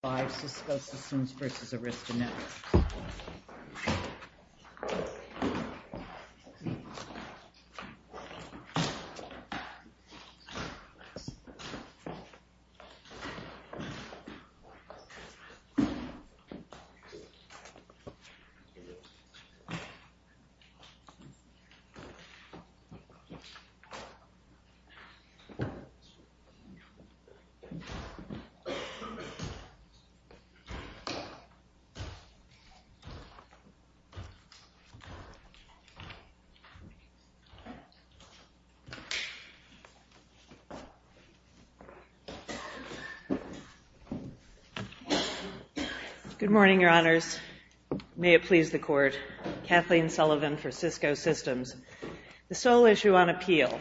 Five Cisco Systems v. Arista Networks. Good morning, Your Honors. May it please the Court. Kathleen Sullivan for Cisco Systems. The sole issue on appeal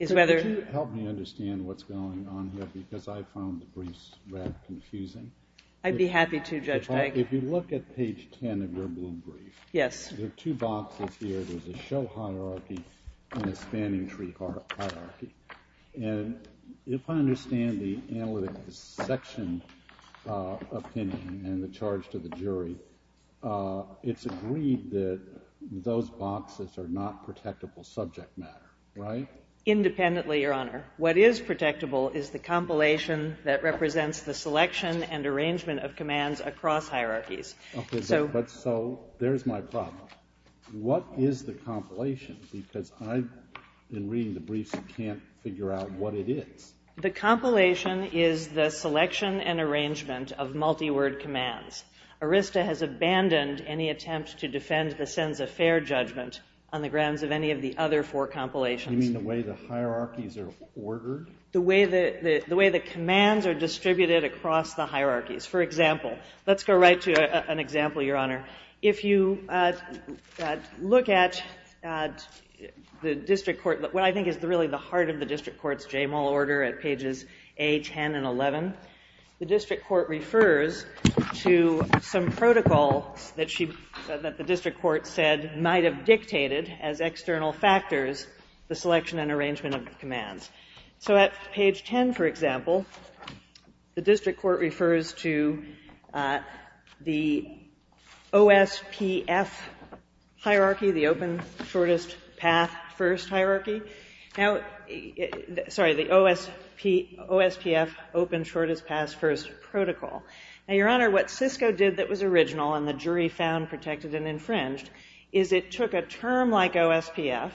is whether— Could you help me understand what's going on here because I found the briefs rather confusing? I'd be happy to, Judge Dyke. If you look at page 10 of your blue brief, there are two boxes here. There's a show hierarchy and a spanning tree hierarchy. And if I understand the analytic section opinion and the charge to the jury, it's agreed that those boxes are not protectable subject matter, right? Independently, Your Honor. What is protectable is the compilation that represents the selection and arrangement of commands across hierarchies. So there's my problem. What is the compilation? Because I, in reading the briefs, can't figure out what it is. The compilation is the selection and arrangement of multi-word commands. Arista has abandoned any attempt to defend the Senza Fair judgment on the grounds of any of the other four compilations. You mean the way the hierarchies are ordered? The way the commands are distributed across the hierarchies. For example, let's go right to an example, Your Honor. If you look at the district court, what I think is really the heart of the district court's JAMAL order at pages A, 10, and 11, the district court refers to some protocol that the district court said might have dictated as external factors the selection and arrangement of commands. So at page 10, for example, the district court refers to the OSPF hierarchy, the Open Shortest Path First hierarchy. Now, sorry, the OSPF, Open Shortest Path First protocol. Now, Your Honor, what Cisco did that was original, and the jury found protected and infringed, is it took a term like OSPF,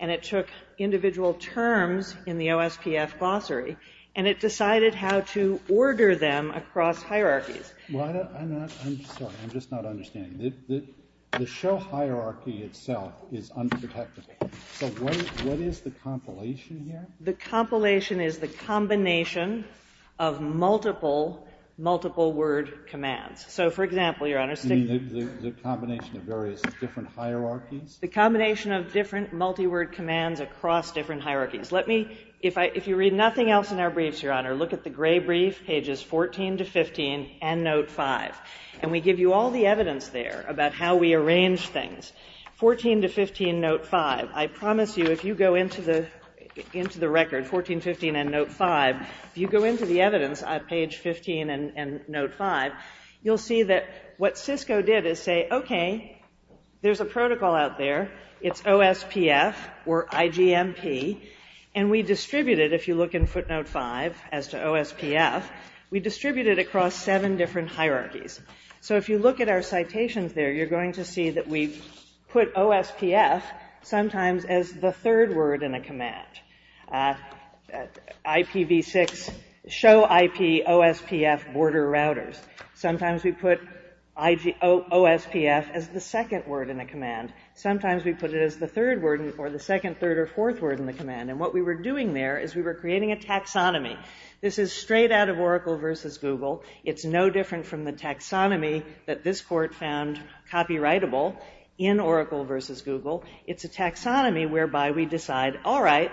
and it took individual terms in the OSPF glossary, and it decided how to order them across hierarchies. I'm sorry, I'm just not understanding. The show hierarchy itself is unprotectable. So what is the compilation here? The compilation is the combination of multiple, multiple-word commands. So, for example, Your Honor, the combination of various different hierarchies. The combination of different multi-word commands across different hierarchies. Let me, if you read nothing else in our briefs, Your Honor, look at the gray brief, pages 14 to 15, and note 5, and we give you all the evidence there about how we arrange things. 14 to 15, note 5. I promise you, if you go into the record, 14, 15, and note 5, if you go into the evidence on page 15 and note 5, you'll see that what Cisco did is say, okay, there's a protocol out there, it's OSPF, or IGMP, and we distribute it, if you look in footnote 5, as to OSPF, we distribute it across seven different hierarchies. So if you look at our citations there, you're going to see that we put OSPF sometimes as the third word in a command. IPv6, show IP, OSPF, border routers. Sometimes we put OSPF as the second word in a command. Sometimes we put it as the third word, or the second, third, or fourth word in the command. And what we were doing there is we were creating a taxonomy. This is straight out of Oracle versus Google. It's no different from the taxonomy that this court found copyrightable in Oracle versus Google. It's a taxonomy whereby we decide, all right,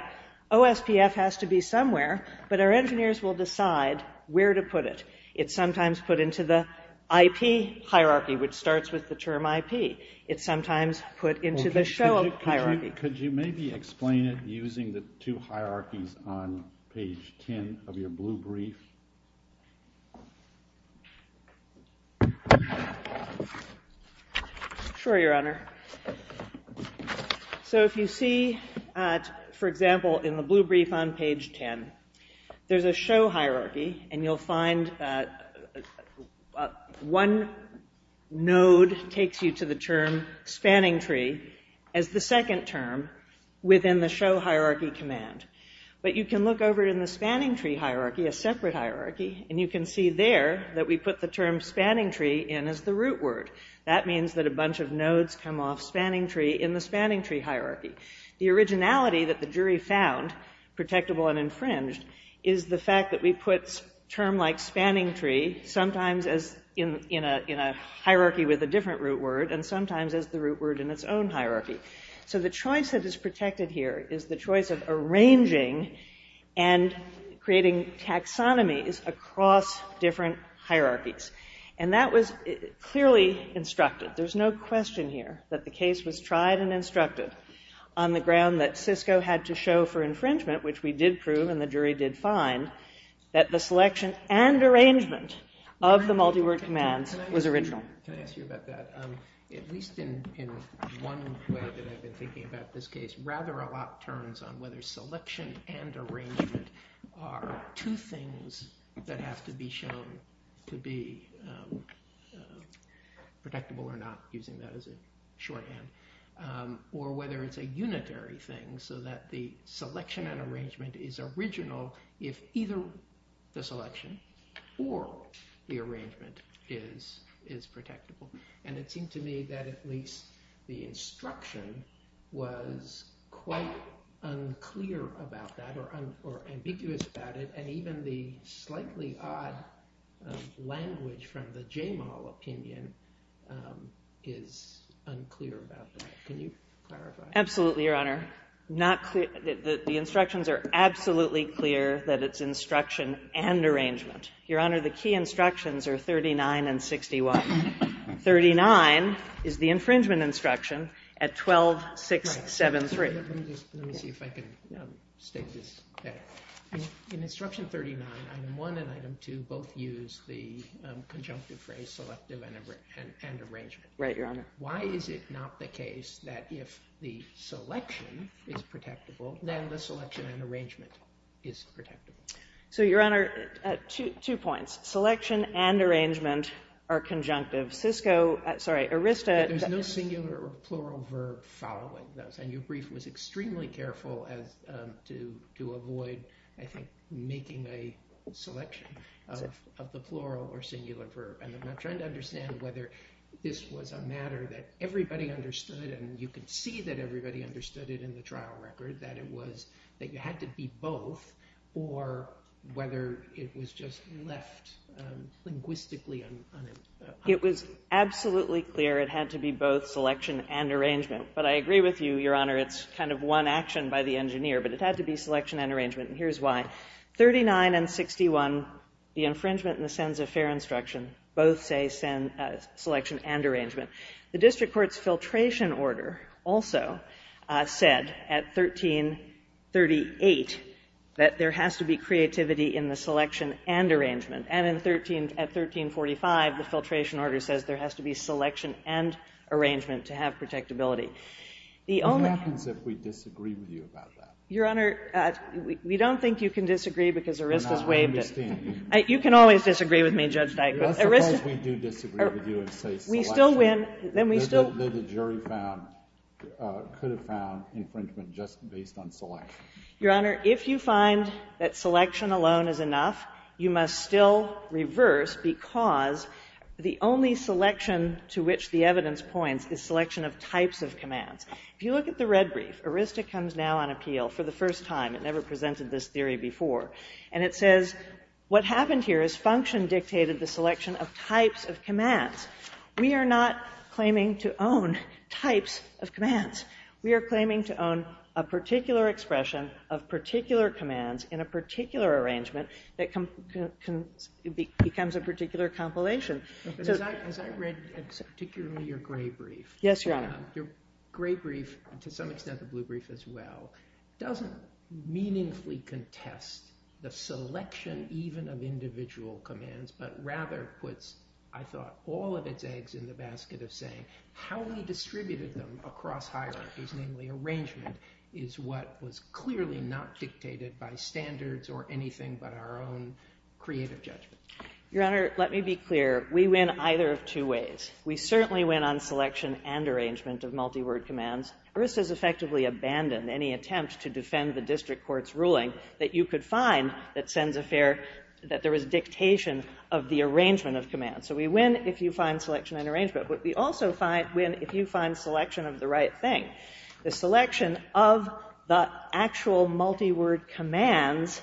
OSPF has to be somewhere, but our engineers will decide where to put it. It's sometimes put into the IP hierarchy, which starts with the term IP. It's sometimes put into the show hierarchy. Could you maybe explain it using the two hierarchies on page 10 of your blue brief? Sure, Your Honor. So if you see, for example, in the blue brief on page 10, there's a show hierarchy, and you'll find one node takes you to the term spanning tree as the second term within the show hierarchy command. But you can look over in the spanning tree hierarchy, a separate hierarchy, and you can see there that we put the term spanning tree in as the root word. That means that a bunch of nodes come off spanning tree in the spanning tree hierarchy. The originality that the jury found, protectable and infringed, is the fact that we put term like spanning tree sometimes in a hierarchy with a different root word and sometimes as the root word in its own hierarchy. So the choice that is protected here is the choice of arranging and creating taxonomies across different hierarchies. And that was clearly instructed. There's no question here that the case was tried and instructed on the ground that Cisco had to show for infringement, which we did prove and the jury did find, that the selection and arrangement of the multi-word commands was original. Can I ask you about that? At least in one way that I've been thinking about this case, rather a lot turns on whether selection and arrangement are two things that have to be shown to be protectable or not, using that as a shorthand, or whether it's a unitary thing so that the selection and arrangement is original if either the selection or the arrangement is protectable. And it seemed to me that at least the instruction was quite unclear about that or ambiguous about it and even the slightly odd language from the JML opinion is unclear about that. Can you clarify? Absolutely, Your Honor. The instructions are absolutely clear that it's instruction and arrangement. Your Honor, the key instructions are 39 and 61. 39 is the infringement instruction at 12.673. Let me see if I can state this better. In instruction 39, item 1 and item 2 both use the conjunctive phrase selective and arrangement. Right, Your Honor. Why is it not the case that if the selection is protectable, then the selection and arrangement is protectable? So, Your Honor, two points. Selection and arrangement are conjunctive. Cisco, sorry, Arista. There's no singular or plural verb following those. And your brief was extremely careful to avoid, I think, making a selection of the plural or singular verb. And I'm not trying to understand whether this was a matter that everybody understood and you could see that everybody understood it in the trial record, that it was that you had to be both or whether it was just left linguistically unpunctuated. It was absolutely clear it had to be both selection and arrangement. But I agree with you, Your Honor, it's kind of one action by the engineer, but it had to be selection and arrangement, and here's why. 39 and 61, the infringement and the sense of fair instruction, both say selection and arrangement. The district court's filtration order also said at 1338 that there has to be creativity in the selection and arrangement. And at 1345, the filtration order says there has to be selection and arrangement to have protectability. The only ---- What happens if we disagree with you about that? Your Honor, we don't think you can disagree because Arista's waived it. I understand. You can always disagree with me, Judge Dikeman. Let's suppose we do disagree with you and say selection. We still win. Then we still ---- The jury found, could have found infringement just based on selection. Your Honor, if you find that selection alone is enough, you must still reverse because the only selection to which the evidence points is selection of types of commands. If you look at the red brief, Arista comes now on appeal for the first time. It never presented this theory before. And it says what happened here is function dictated the selection of types of commands. We are not claiming to own types of commands. We are claiming to own a particular expression of particular commands in a particular arrangement that becomes a particular compilation. Has I read particularly your gray brief? Yes, Your Honor. Your gray brief, to some extent the blue brief as well, doesn't meaningfully contest the selection even of individual commands, but rather puts, I thought, all of its eggs in the basket of saying how we distributed them across hierarchies, namely arrangement, is what was clearly not dictated by standards or anything but our own creative judgment. Your Honor, let me be clear. We win either of two ways. We certainly win on selection and arrangement of multi-word commands. Arista has effectively abandoned any attempt to defend the district court's ruling that you could find that sends a fair, that there was dictation of the arrangement of commands. So we win if you find selection and arrangement, but we also win if you find selection of the right thing. The selection of the actual multi-word commands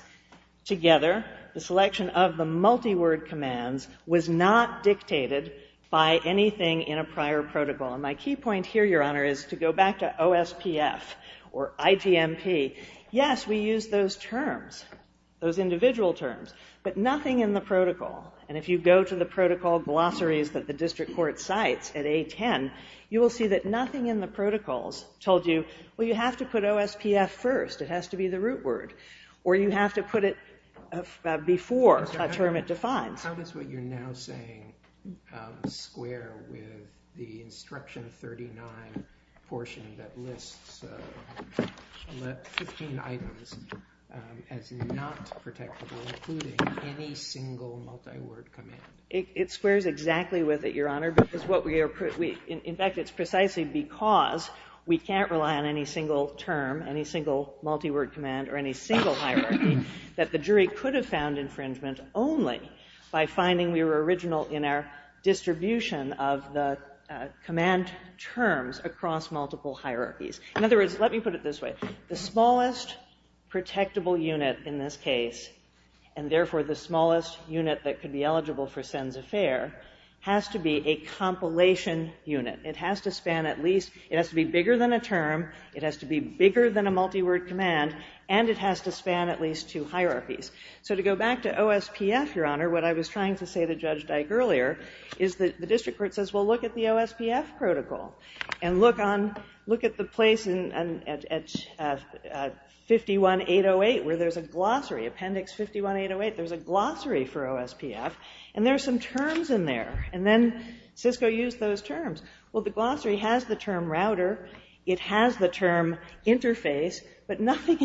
together, the selection of the multi-word commands was not dictated by anything in a prior protocol. And my key point here, Your Honor, is to go back to OSPF or IGMP. Yes, we use those terms, those individual terms, but nothing in the protocol. And if you go to the protocol glossaries that the district court cites at A10, you will see that nothing in the protocols told you, well, you have to put OSPF first. It has to be the root word. Or you have to put it before a term it defines. How does what you're now saying square with the Instruction 39 portion that lists 15 items as not protectable, including any single multi-word command? It squares exactly with it, Your Honor. In fact, it's precisely because we can't rely on any single term, any single multi-word command or any single hierarchy, that the jury could have found infringement only by finding we were original in our distribution of the command terms across multiple hierarchies. In other words, let me put it this way. The smallest protectable unit in this case, and therefore the smallest unit that could be eligible for Sen's Affair, has to be a compilation unit. It has to be bigger than a multi-word command. And it has to span at least two hierarchies. So to go back to OSPF, Your Honor, what I was trying to say to Judge Dyke earlier, is that the district court says, well, look at the OSPF protocol. And look at the place at 51-808 where there's a glossary, appendix 51-808. There's a glossary for OSPF. And there are some terms in there. And then Cisco used those terms. Well, the glossary has the term router. It has the term interface. But nothing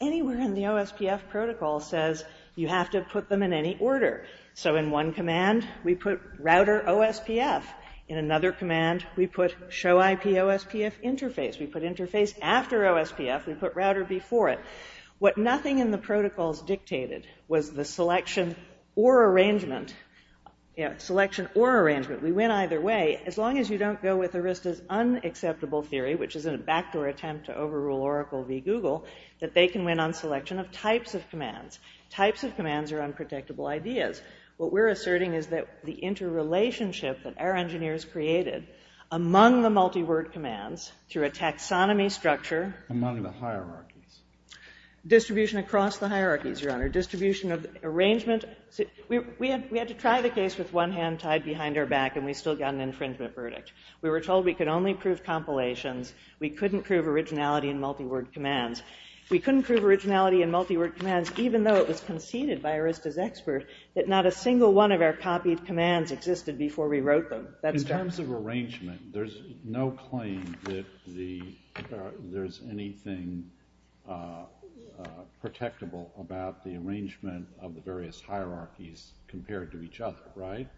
anywhere in the OSPF protocol says you have to put them in any order. So in one command, we put router OSPF. In another command, we put show IP OSPF interface. We put interface after OSPF. We put router before it. What nothing in the protocols dictated was the selection or arrangement. Selection or arrangement. We went either way. As long as you don't go with Arista's unacceptable theory, which is a backdoor attempt to overrule Oracle v. Google, that they can win on selection of types of commands. Types of commands are unprotectable ideas. What we're asserting is that the interrelationship that our engineers created among the multi-word commands through a taxonomy structure. Among the hierarchies. Distribution across the hierarchies, Your Honor. Distribution of arrangement. We had to try the case with one hand tied behind our back and we still got an infringement verdict. We were told we could only prove compilations. We couldn't prove originality in multi-word commands. We couldn't prove originality in multi-word commands even though it was conceded by Arista's expert that not a single one of our copied commands existed before we wrote them. In terms of arrangement, there's no claim that there's anything protectable about the arrangement of the various hierarchies compared to each other, right?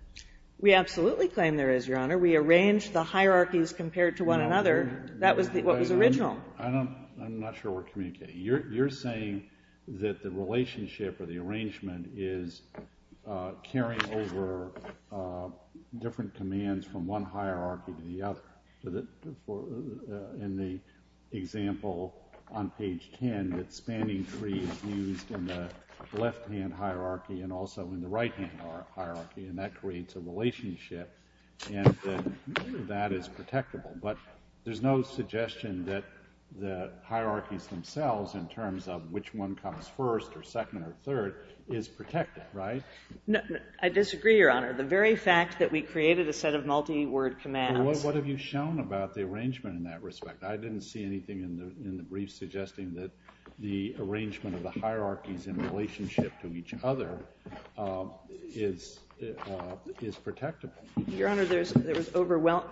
We absolutely claim there is, Your Honor. We arranged the hierarchies compared to one another. That was what was original. I'm not sure we're communicating. You're saying that the relationship or the arrangement is carrying over different commands from one hierarchy to the other. In the example on page 10, the spanning tree is used in the left-hand hierarchy and also in the right-hand hierarchy and that creates a relationship and that is protectable. But there's no suggestion that the hierarchies themselves in terms of which one comes first or second or third is protected, right? I disagree, Your Honor. The very fact that we created a set of multi-word commands What have you shown about the arrangement in that respect? I didn't see anything in the brief suggesting that the arrangement of the hierarchies in relationship to each other is protectable. Your Honor, there was overwhelming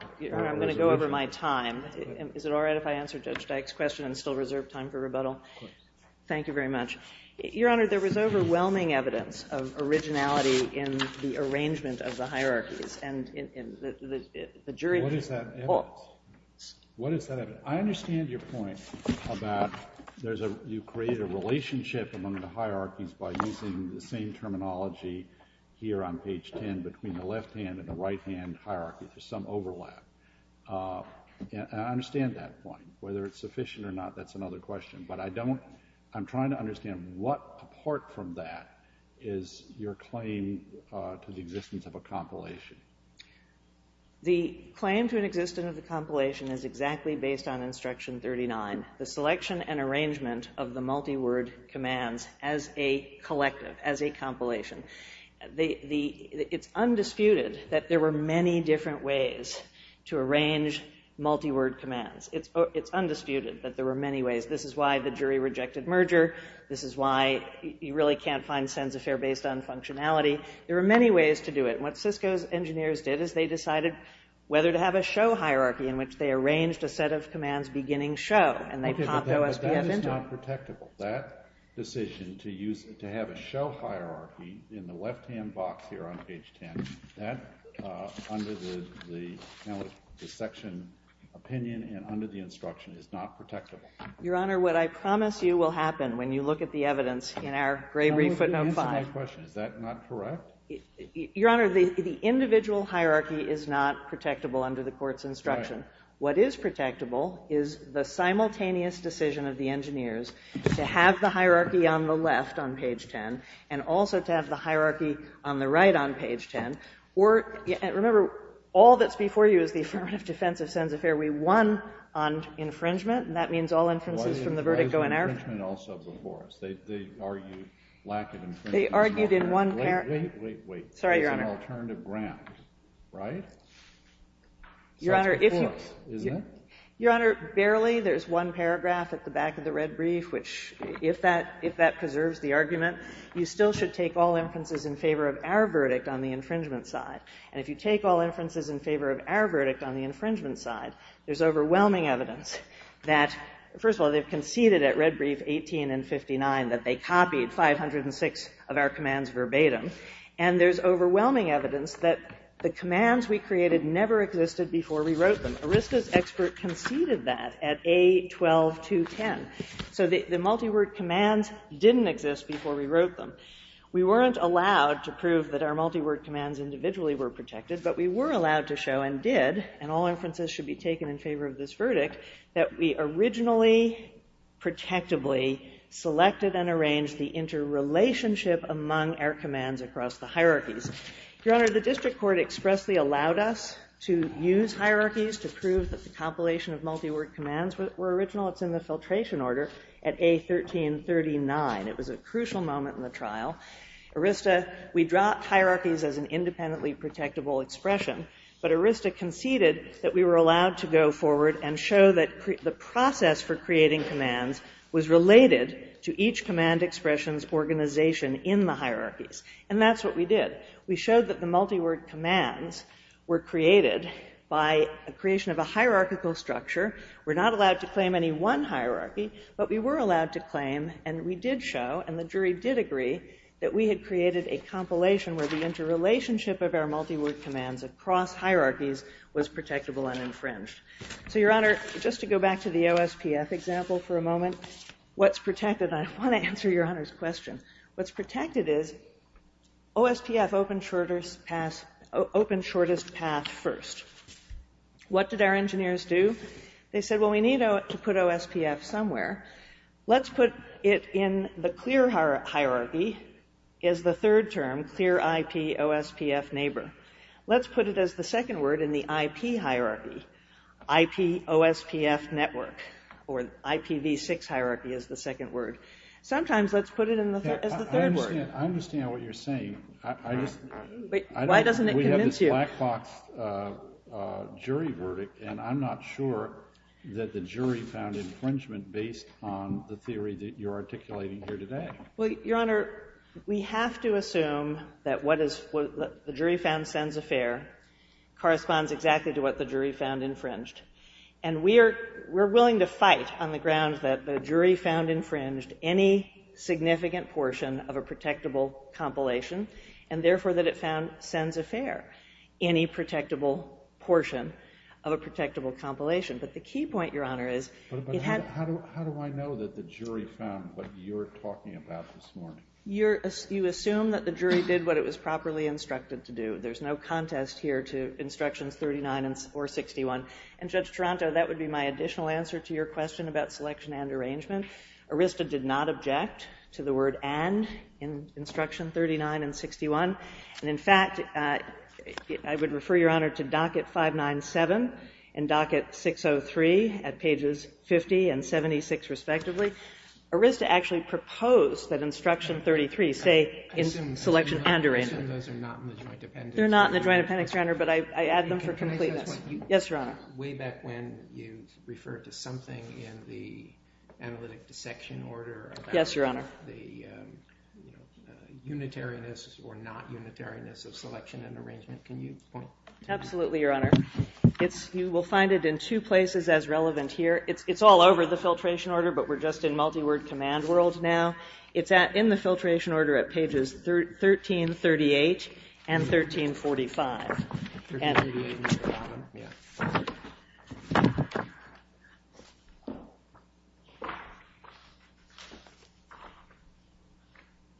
evidence of originality in the arrangement of the hierarchies. What is that evidence? I understand your point about you create a relationship among the hierarchies by using the same terminology here on page 10 between the left-hand and the right-hand hierarchy. There's some overlap. I understand that point. Whether it's sufficient or not, that's another question. I'm trying to understand what apart from that is your claim to the existence of a compilation. The claim to an existence of a compilation is exactly based on Instruction 39. The selection and arrangement of the multi-word commands as a collective, as a compilation. It's undisputed that there were many different ways to arrange multi-word commands. It's undisputed that there were many ways. This is why the jury rejected merger. This is why you really can't find sense if they're based on functionality. There were many ways to do it. What Cisco's engineers did is they decided whether to have a show hierarchy in which they arranged a set of commands beginning show and they popped OSPF into it. But that is not protectable. That decision to have a show hierarchy in the left-hand box here on page 10, that under the section opinion and under the instruction is not protectable. Your Honor, what I promise you will happen when you look at the evidence in our Gray-Reef footnote 5. Let me answer my question. Is that not correct? Your Honor, the individual hierarchy is not protectable under the court's instruction. What is protectable is the simultaneous decision of the engineers to have the hierarchy on the left on page 10 and also to have the hierarchy on the right on page 10. Remember, all that's before you is the Affirmative Defense of Sen's Affair. We won on infringement, and that means all inferences from the verdict go in our favor. Why is infringement also before us? They argued lack of infringement. They argued in one paragraph. Wait, wait, wait. Sorry, Your Honor. It's an alternative ground, right? That's before us, isn't it? Your Honor, barely. There's one paragraph at the back of the red brief, which if that preserves the argument, you still should take all inferences in favor of our verdict on the infringement side. And if you take all inferences in favor of our verdict on the infringement side, there's overwhelming evidence that, first of all, they've conceded at red brief 18 and 59 that they copied 506 of our commands verbatim, and there's overwhelming evidence that the commands we created never existed before we wrote them. Arista's expert conceded that at A12210. So the multi-word commands didn't exist before we wrote them. We weren't allowed to prove that our multi-word commands individually were protected, but we were allowed to show and did, and all inferences should be taken in favor of this verdict, that we originally protectably selected and arranged the interrelationship among our commands across the hierarchies. Your Honor, the district court expressly allowed us to use hierarchies to prove that the compilation of multi-word commands were original. It's in the filtration order at A1339. It was a crucial moment in the trial. Arista, we dropped hierarchies as an independently protectable expression, but Arista conceded that we were allowed to go forward and show that the process for creating commands was related to each command expression's organization in the hierarchies, and that's what we did. We showed that the multi-word commands were created by a creation of a hierarchical structure. We're not allowed to claim any one hierarchy, but we were allowed to claim and we did show, and the jury did agree, that we had created a compilation where the interrelationship of our multi-word commands across hierarchies was protectable and infringed. So, Your Honor, just to go back to the OSPF example for a moment, what's protected? I want to answer Your Honor's question. What's protected is OSPF opened shortest path first. What did our engineers do? They said, well, we need to put OSPF somewhere. Let's put it in the clear hierarchy as the third term, clear IP OSPF neighbor. Let's put it as the second word in the IP hierarchy, IP OSPF network, or IPv6 hierarchy as the second word. Sometimes let's put it as the third word. I understand what you're saying. Why doesn't it convince you? We have this black box jury verdict, and I'm not sure that the jury found infringement based on the theory that you're articulating here today. Well, Your Honor, we have to assume that what the jury found sends a fair corresponds exactly to what the jury found infringed, and we're willing to fight on the grounds that the jury found infringed any significant portion of a protectable compilation and, therefore, that it found sends a fair, any protectable portion of a protectable compilation. But the key point, Your Honor, is it had... But how do I know that the jury found what you're talking about this morning? You assume that the jury did what it was properly instructed to do. There's no contest here to Instructions 39 or 61. And, Judge Taranto, that would be my additional answer to your question about selection and arrangement. Arista did not object to the word and in Instruction 39 and 61. And, in fact, I would refer, Your Honor, to Docket 597 and Docket 603 at pages 50 and 76, respectively. Arista actually proposed that Instruction 33 say in selection and arrangement. I assume those are not in the joint appendix. They're not in the joint appendix, Your Honor, but I add them for completeness. Can I say something? Yes, Your Honor. Way back when you referred to something in the analytic dissection order. Yes, Your Honor. The unitariness or not unitariness of selection and arrangement. Can you point to that? Absolutely, Your Honor. You will find it in two places as relevant here. It's all over the filtration order, but we're just in multi-word command world now. It's in the filtration order at pages 1338 and 1345. 1338 and 1345, yes.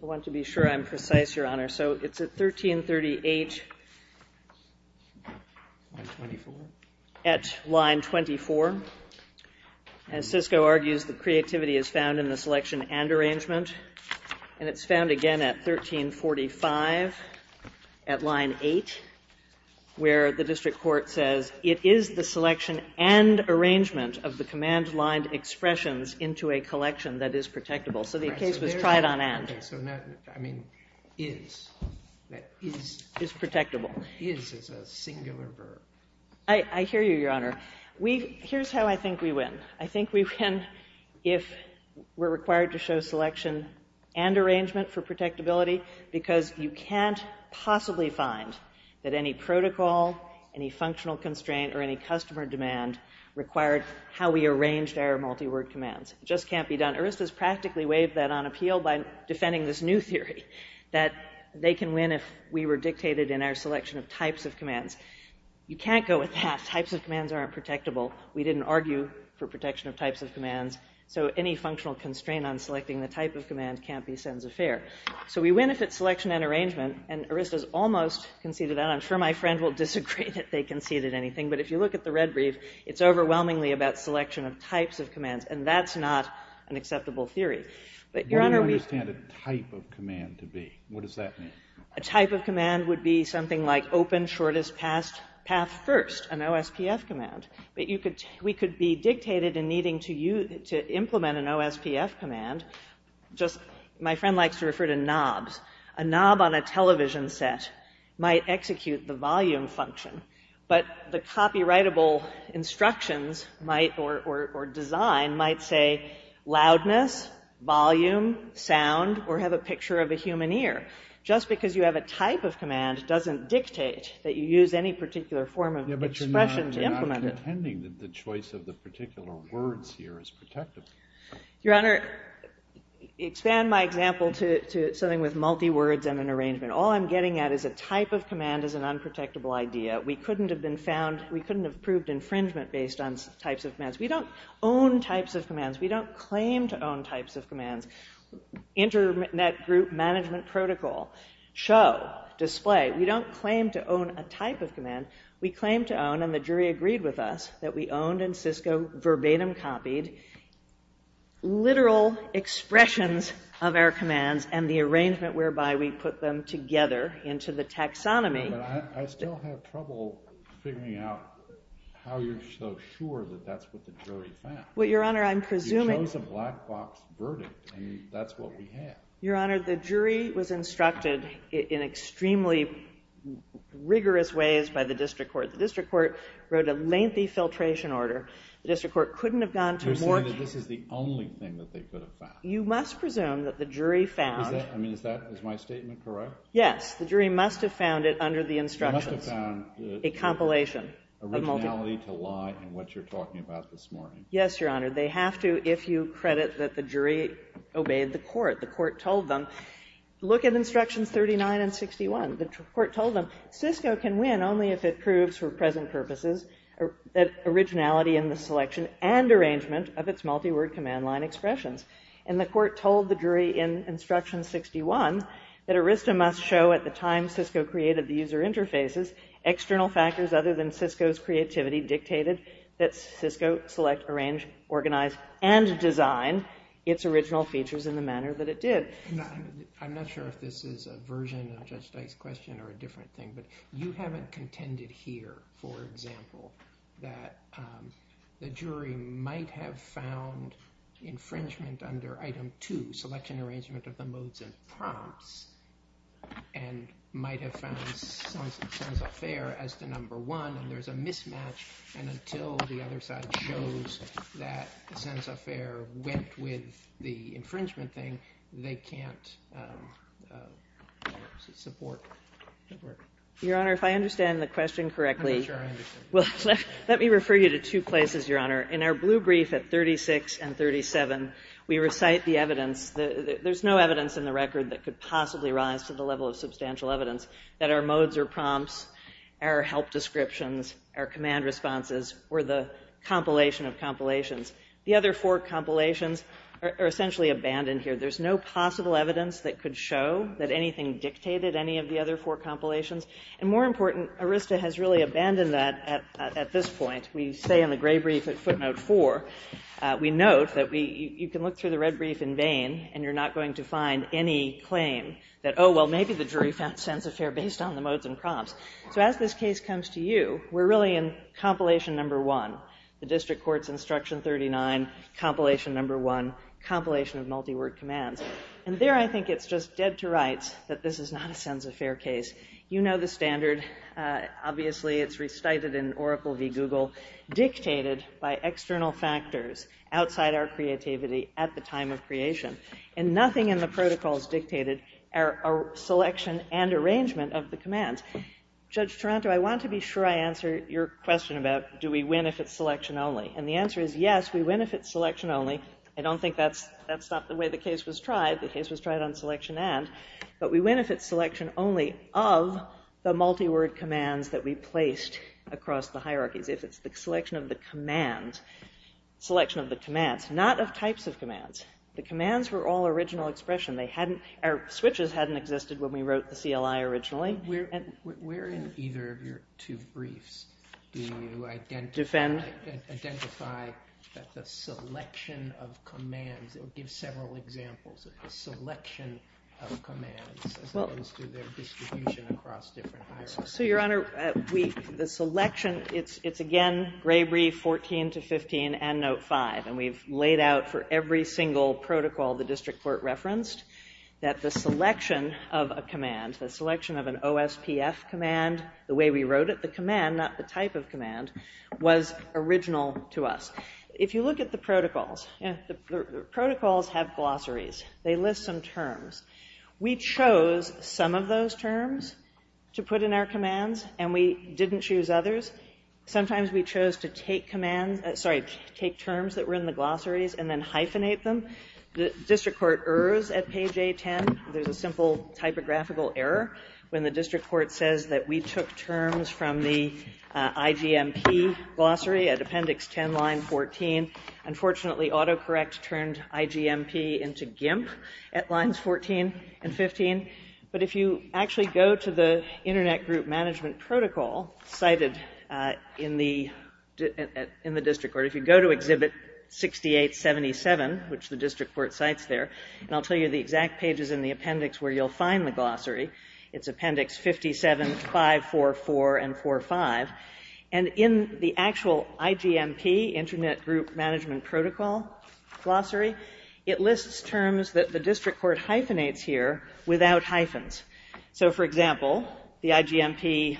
I want to be sure I'm precise, Your Honor. So it's at 1338 at line 24. As Cisco argues, the creativity is found in the selection and arrangement. And it's found again at 1345 at line 8, where the district court says, it is the selection and arrangement of the command line expressions into a collection that is protectable. So the case was tried on and. So not, I mean, is. Is. Is protectable. Is is a singular verb. I hear you, Your Honor. Here's how I think we win. I think we win if we're required to show selection and arrangement for protectability because you can't possibly find that any protocol, any functional constraint, or any customer demand required how we arranged our multi-word commands. It just can't be done. ERST has practically waived that on appeal by defending this new theory, that they can win if we were dictated in our selection of types of commands. You can't go with that. Types of commands aren't protectable. We didn't argue for protection of types of commands. So any functional constraint on selecting the type of command can't be sense of fare. So we win if it's selection and arrangement. And ERST has almost conceded that. I'm sure my friend will disagree that they conceded anything. But if you look at the red brief, it's overwhelmingly about selection of types of commands. And that's not an acceptable theory. But, Your Honor, we. I don't understand a type of command to be. What does that mean? A type of command would be something like open shortest path first, an OSPF command. But we could be dictated in needing to implement an OSPF command. My friend likes to refer to knobs. A knob on a television set might execute the volume function. But the copyrightable instructions or design might say loudness, volume, sound, or have a picture of a human ear. Just because you have a type of command doesn't dictate that you use any particular form of expression to implement it. It's not impending that the choice of the particular words here is protectable. Your Honor, expand my example to something with multi-words and an arrangement. All I'm getting at is a type of command is an unprotectable idea. We couldn't have been found. We couldn't have proved infringement based on types of commands. We don't own types of commands. We don't claim to own types of commands. Internet group management protocol, show, display. We don't claim to own a type of command. We claim to own, and the jury agreed with us, that we owned and Cisco verbatim copied literal expressions of our commands and the arrangement whereby we put them together into the taxonomy. But I still have trouble figuring out how you're so sure that that's what the jury found. Well, Your Honor, I'm presuming. You chose a black box verdict, and that's what we have. Your Honor, the jury was instructed in extremely rigorous ways by the district court. The district court wrote a lengthy filtration order. The district court couldn't have gone to more. You're saying that this is the only thing that they could have found. You must presume that the jury found. Is that, I mean, is that, is my statement correct? Yes. The jury must have found it under the instructions. They must have found. A compilation. Originality to lie and what you're talking about this morning. Yes, Your Honor. They have to if you credit that the jury obeyed the court. The court told them, look at instructions 39 and 61. The court told them, Cisco can win only if it proves for present purposes that originality in the selection and arrangement of its multi-word command line expressions. And the court told the jury in instruction 61 that Arista must show at the time Cisco created the user interfaces, external factors other than Cisco's creativity dictated that Cisco select, arrange, organize, and design its original features in the manner that it did. I'm not sure if this is a version of Judge Dyke's question or a different thing, but you haven't contended here, for example, that the jury might have found infringement under item 2, selection and arrangement of the modes and prompts, and might have found sense of fair as to number 1, and there's a mismatch, and until the other side shows that sense of fair went with the infringement thing, they can't support that work. Your Honor, if I understand the question correctly. I'm not sure I understand it. Let me refer you to two places, Your Honor. There's no evidence in the record that could possibly rise to the level of substantial evidence that our modes or prompts, our help descriptions, our command responses, or the compilation of compilations. The other four compilations are essentially abandoned here. There's no possible evidence that could show that anything dictated any of the other four compilations. And more important, Arista has really abandoned that at this point. We say in the gray brief at footnote 4, we note that you can look through the red brief in vain, and you're not going to find any claim that, oh, well, maybe the jury found sense of fair based on the modes and prompts. So as this case comes to you, we're really in compilation number 1, the district court's instruction 39, compilation number 1, compilation of multi-word commands. And there I think it's just dead to rights that this is not a sense of fair case. You know the standard. Obviously, it's restated in Oracle v. Google, dictated by external factors outside our creativity at the time of creation. And nothing in the protocols dictated our selection and arrangement of the commands. Judge Taranto, I want to be sure I answer your question about do we win if it's selection only. And the answer is yes, we win if it's selection only. I don't think that's the way the case was tried. The case was tried on selection and. But we win if it's selection only of the multi-word commands that we placed across the hierarchies. If it's the selection of the commands, selection of the commands, not of types of commands. The commands were all original expression. Our switches hadn't existed when we wrote the CLI originally. Where in either of your two briefs do you identify that the selection of commands, it would give several examples of the selection of commands as opposed to their distribution across different hierarchies. So, Your Honor, the selection, it's again Gray-Brief 14 to 15 and Note 5. And we've laid out for every single protocol the district court referenced that the selection of a command, the selection of an OSPF command, the way we wrote it, the command, not the type of command, was original to us. If you look at the protocols, the protocols have glossaries. They list some terms. We chose some of those terms to put in our commands and we didn't choose others. Sometimes we chose to take commands, sorry, take terms that were in the glossaries and then hyphenate them. The district court errs at page A10. There's a simple typographical error when the district court says that we took terms from the IGMP glossary at Appendix 10, Line 14. Unfortunately, autocorrect turned IGMP into GIMP at Lines 14 and 15. But if you actually go to the Internet Group Management Protocol cited in the district court, if you go to Exhibit 6877, which the district court cites there, and I'll tell you the exact pages in the appendix where you'll find the glossary, it's Appendix 57, 544, and 45, and in the actual IGMP, Internet Group Management Protocol glossary, it lists terms that the district court hyphenates here without hyphens. So, for example, the IGMP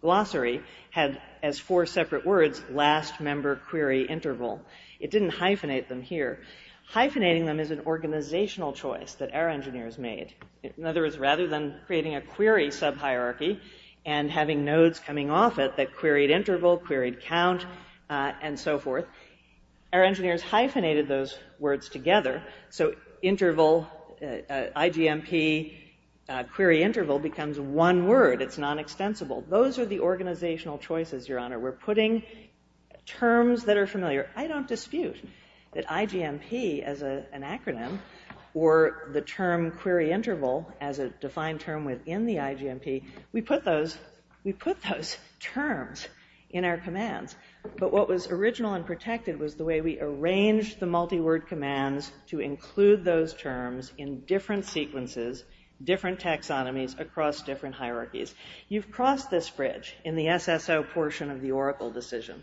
glossary had, as four separate words, last member query interval. It didn't hyphenate them here. Hyphenating them is an organizational choice that our engineers made. In other words, rather than creating a query sub-hierarchy and having nodes coming off it that queried interval, queried count, and so forth, our engineers hyphenated those words together, so IGMP query interval becomes one word. It's non-extensible. Those are the organizational choices, Your Honor. We're putting terms that are familiar. I don't dispute that IGMP, as an acronym, or the term query interval as a defined term within the IGMP, we put those terms in our commands, but what was original and protected was the way we arranged the multi-word commands to include those terms in different sequences, different taxonomies, across different hierarchies. You've crossed this bridge in the SSO portion of the Oracle decision.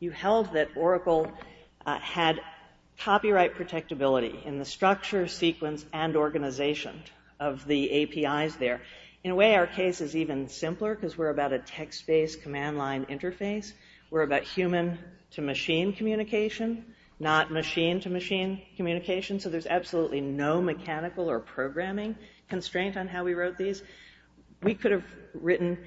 You held that Oracle had copyright protectability in the structure, sequence, and organization of the APIs there. In a way, our case is even simpler because we're about a text-based command line interface. We're about human-to-machine communication, not machine-to-machine communication, so there's absolutely no mechanical or programming constraint on how we wrote these. We could have written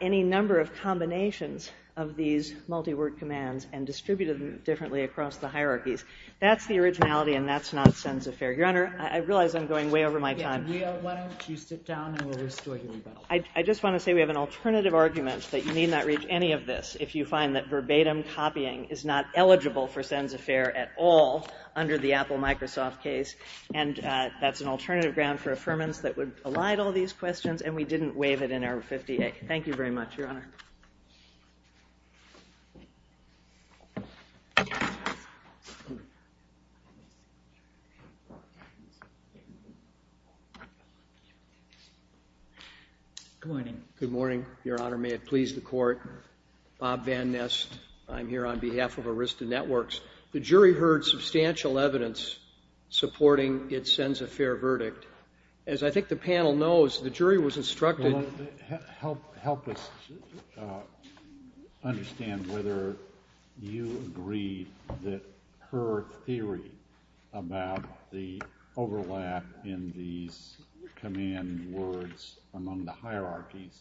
any number of combinations of these multi-word commands and distributed them differently across the hierarchies. That's the originality, and that's not Sen's affair. Your Honor, I realize I'm going way over my time. Why don't you sit down, and we'll restore your rebuttal. I just want to say we have an alternative argument that you may not reach any of this if you find that verbatim copying is not eligible for Sen's affair at all under the Apple-Microsoft case, and that's an alternative ground for affirmance that would elide all these questions, and we didn't waive it in our 58. Thank you very much, Your Honor. Good morning. Good morning, Your Honor. May it please the Court. Bob Van Nest. I'm here on behalf of Arista Networks. The jury heard substantial evidence supporting its Sen's affair verdict. As I think the panel knows, the jury was instructed... Help us understand whether you agree that her theory about the overlap in these command words among the hierarchies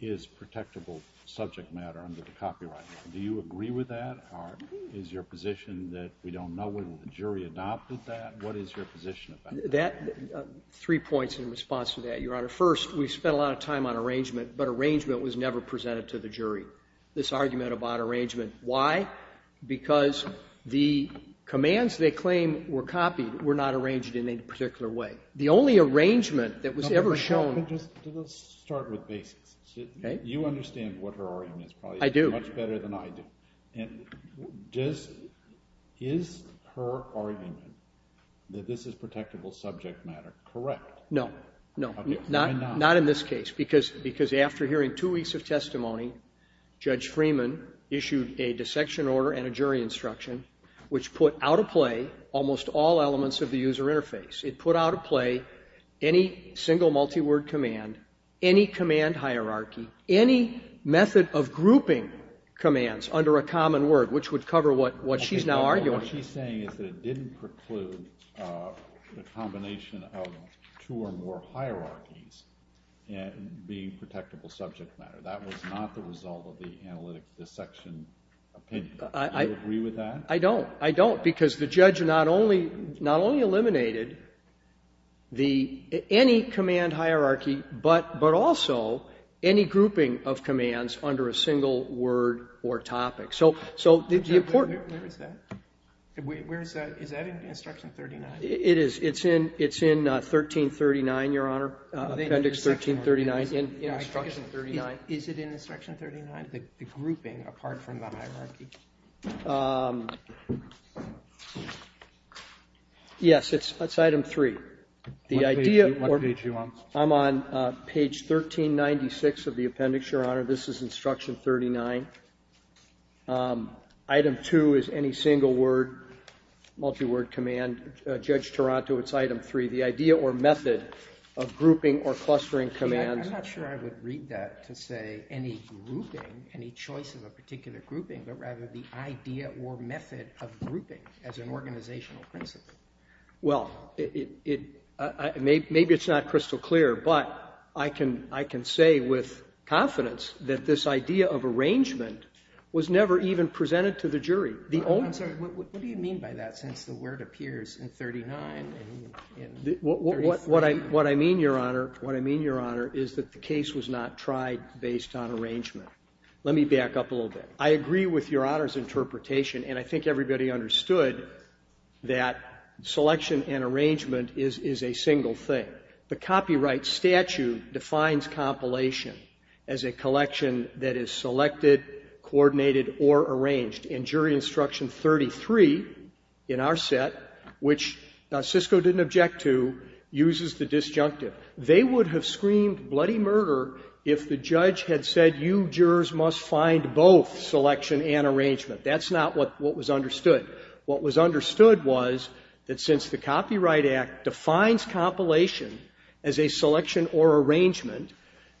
is protectable subject matter under the copyright law. Do you agree with that? Is your position that we don't know whether the jury adopted that? What is your position about that? Three points in response to that, Your Honor. First, we spent a lot of time on arrangement, but arrangement was never presented to the jury. This argument about arrangement, why? Because the commands they claim were copied were not arranged in any particular way. The only arrangement that was ever shown... Let's start with basics. Okay. You understand what her argument is, probably. I do. Much better than I do. Is her argument that this is protectable subject matter correct? No. Okay. Why not? Not in this case, because after hearing two weeks of testimony, Judge Freeman issued a dissection order and a jury instruction, which put out of play almost all elements of the user interface. It put out of play any single multi-word command, any command hierarchy, any method of grouping commands under a common word, which would cover what she's now arguing. What she's saying is that it didn't preclude the combination of two or more hierarchies being protectable subject matter. That was not the result of the analytic dissection opinion. Do you agree with that? I don't. I don't, because the judge not only eliminated the any command hierarchy, but also any grouping of commands under a single word or topic. Where is that? Is that in Instruction 39? It is. It's in 1339, Your Honor, Appendix 1339. In Instruction 39. Is it in Instruction 39, the grouping apart from the hierarchy? Yes. It's item three. What page are you on? I'm on page 1396 of the appendix, Your Honor. This is Instruction 39. Item two is any single word, multi-word command. Judge Taranto, it's item three. The idea or method of grouping or clustering commands. I'm not sure I would read that to say any grouping, any choice of a particular grouping, but rather the idea or method of grouping as an organizational principle. Well, maybe it's not crystal clear, but I can say with confidence that this idea of arrangement was never even presented to the jury. I'm sorry. What do you mean by that, since the word appears in 39? What I mean, Your Honor, is that the case was not tried based on arrangement. Let me back up a little bit. I agree with Your Honor's interpretation, and I think everybody understood that selection and arrangement is a single thing. The copyright statute defines compilation as a collection that is selected, coordinated, or arranged. And Jury Instruction 33 in our set, which Cisco didn't object to, uses the disjunctive. They would have screamed bloody murder if the judge had said you jurors must find both selection and arrangement. That's not what was understood. What was understood was that since the Copyright Act defines compilation as a selection or arrangement,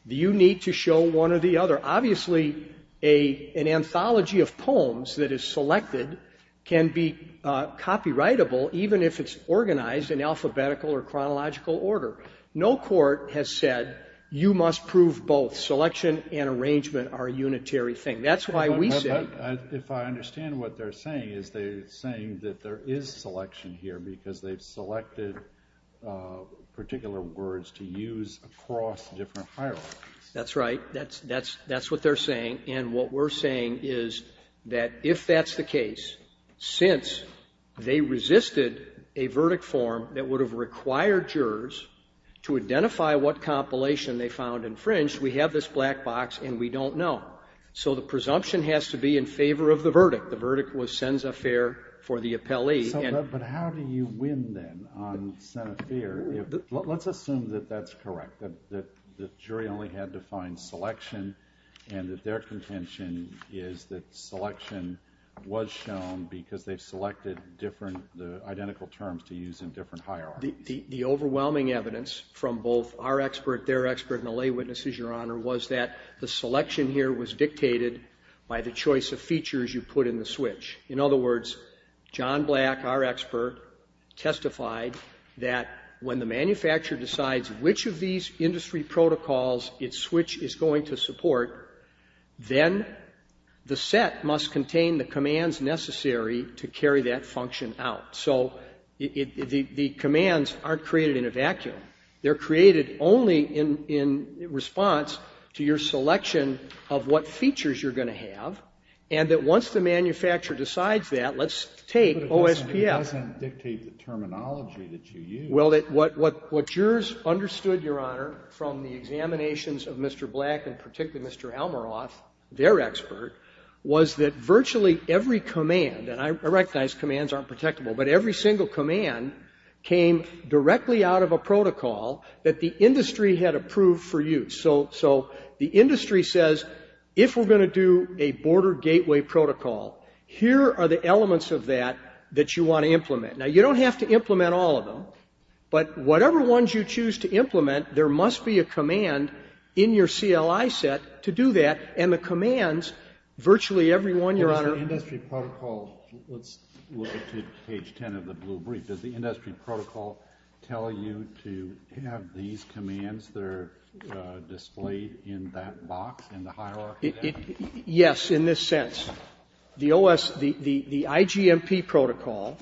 you need to show one or the other. Obviously, an anthology of poems that is selected can be copyrightable even if it's organized in alphabetical or chronological order. No court has said you must prove both. Selection and arrangement are a unitary thing. That's why we say — But if I understand what they're saying, is they're saying that there is selection here because they've selected particular words to use across different hierarchies. That's right. That's what they're saying. And what we're saying is that if that's the case, since they resisted a verdict form that would have required jurors to identify what compilation they found infringed, we have this black box and we don't know. So the presumption has to be in favor of the verdict. The verdict was sens affaire for the appellee. But how do you win, then, on sens affaire? Let's assume that that's correct, that the jury only had to find selection, and that their contention is that selection was shown because they've selected different terms to use in different hierarchies. The overwhelming evidence from both our expert, their expert, and the lay witnesses, Your Honor, was that the selection here was dictated by the choice of features you put in the switch. In other words, John Black, our expert, testified that when the manufacturer decides which of these industry protocols its switch is going to support, then the set must contain the commands necessary to carry that function out. So the commands aren't created in a vacuum. They're created only in response to your selection of what features you're going to have, and that once the manufacturer decides that, let's take OSPF. But it doesn't dictate the terminology that you use. Well, what jurors understood, Your Honor, from the examinations of Mr. Black and particularly Mr. Almaroth, their expert, was that virtually every command, and I recognize commands aren't protectable, but every single command came directly out of a protocol that the industry had approved for use. So the industry says, if we're going to do a border gateway protocol, here are the elements of that that you want to implement. Now, you don't have to implement all of them, but whatever ones you choose to implement, there must be a command in your CLI set to do that, and the commands virtually every one, Your Honor. But does the industry protocol, let's look at page 10 of the blue brief, does the industry protocol tell you to have these commands that are displayed in that box in the hierarchy there? Yes, in this sense. The OS, the IGMP protocol,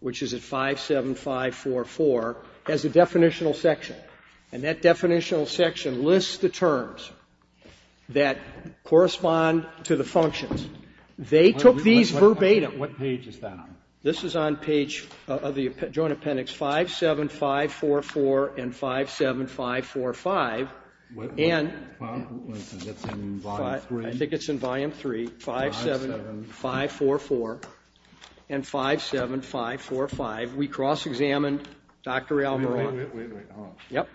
which is at 57544, has a definitional section. And that definitional section lists the terms that correspond to the functions. They took these verbatim. What page is that on? This is on page of the Joint Appendix 57544 and 57545. And I think it's in volume 3, 57544 and 57545. We cross-examined Dr. Almaroth. Wait, wait, wait, hold on. Yep.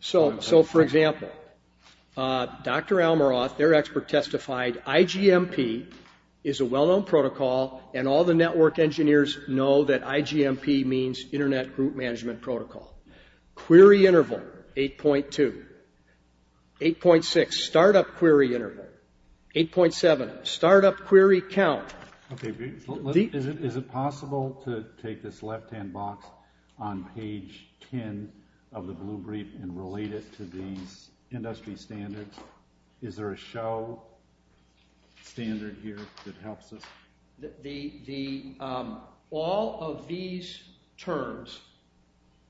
So, for example, Dr. Almaroth, their expert testified, IGMP is a well-known protocol, and all the network engineers know that IGMP means Internet Group Management Protocol. Query interval, 8.2. 8.6, start-up query interval. 8.7, start-up query count. Okay, is it possible to take this left-hand box on page 10 of the blue brief and relate it to these industry standards? Is there a show standard here that helps us? All of these terms,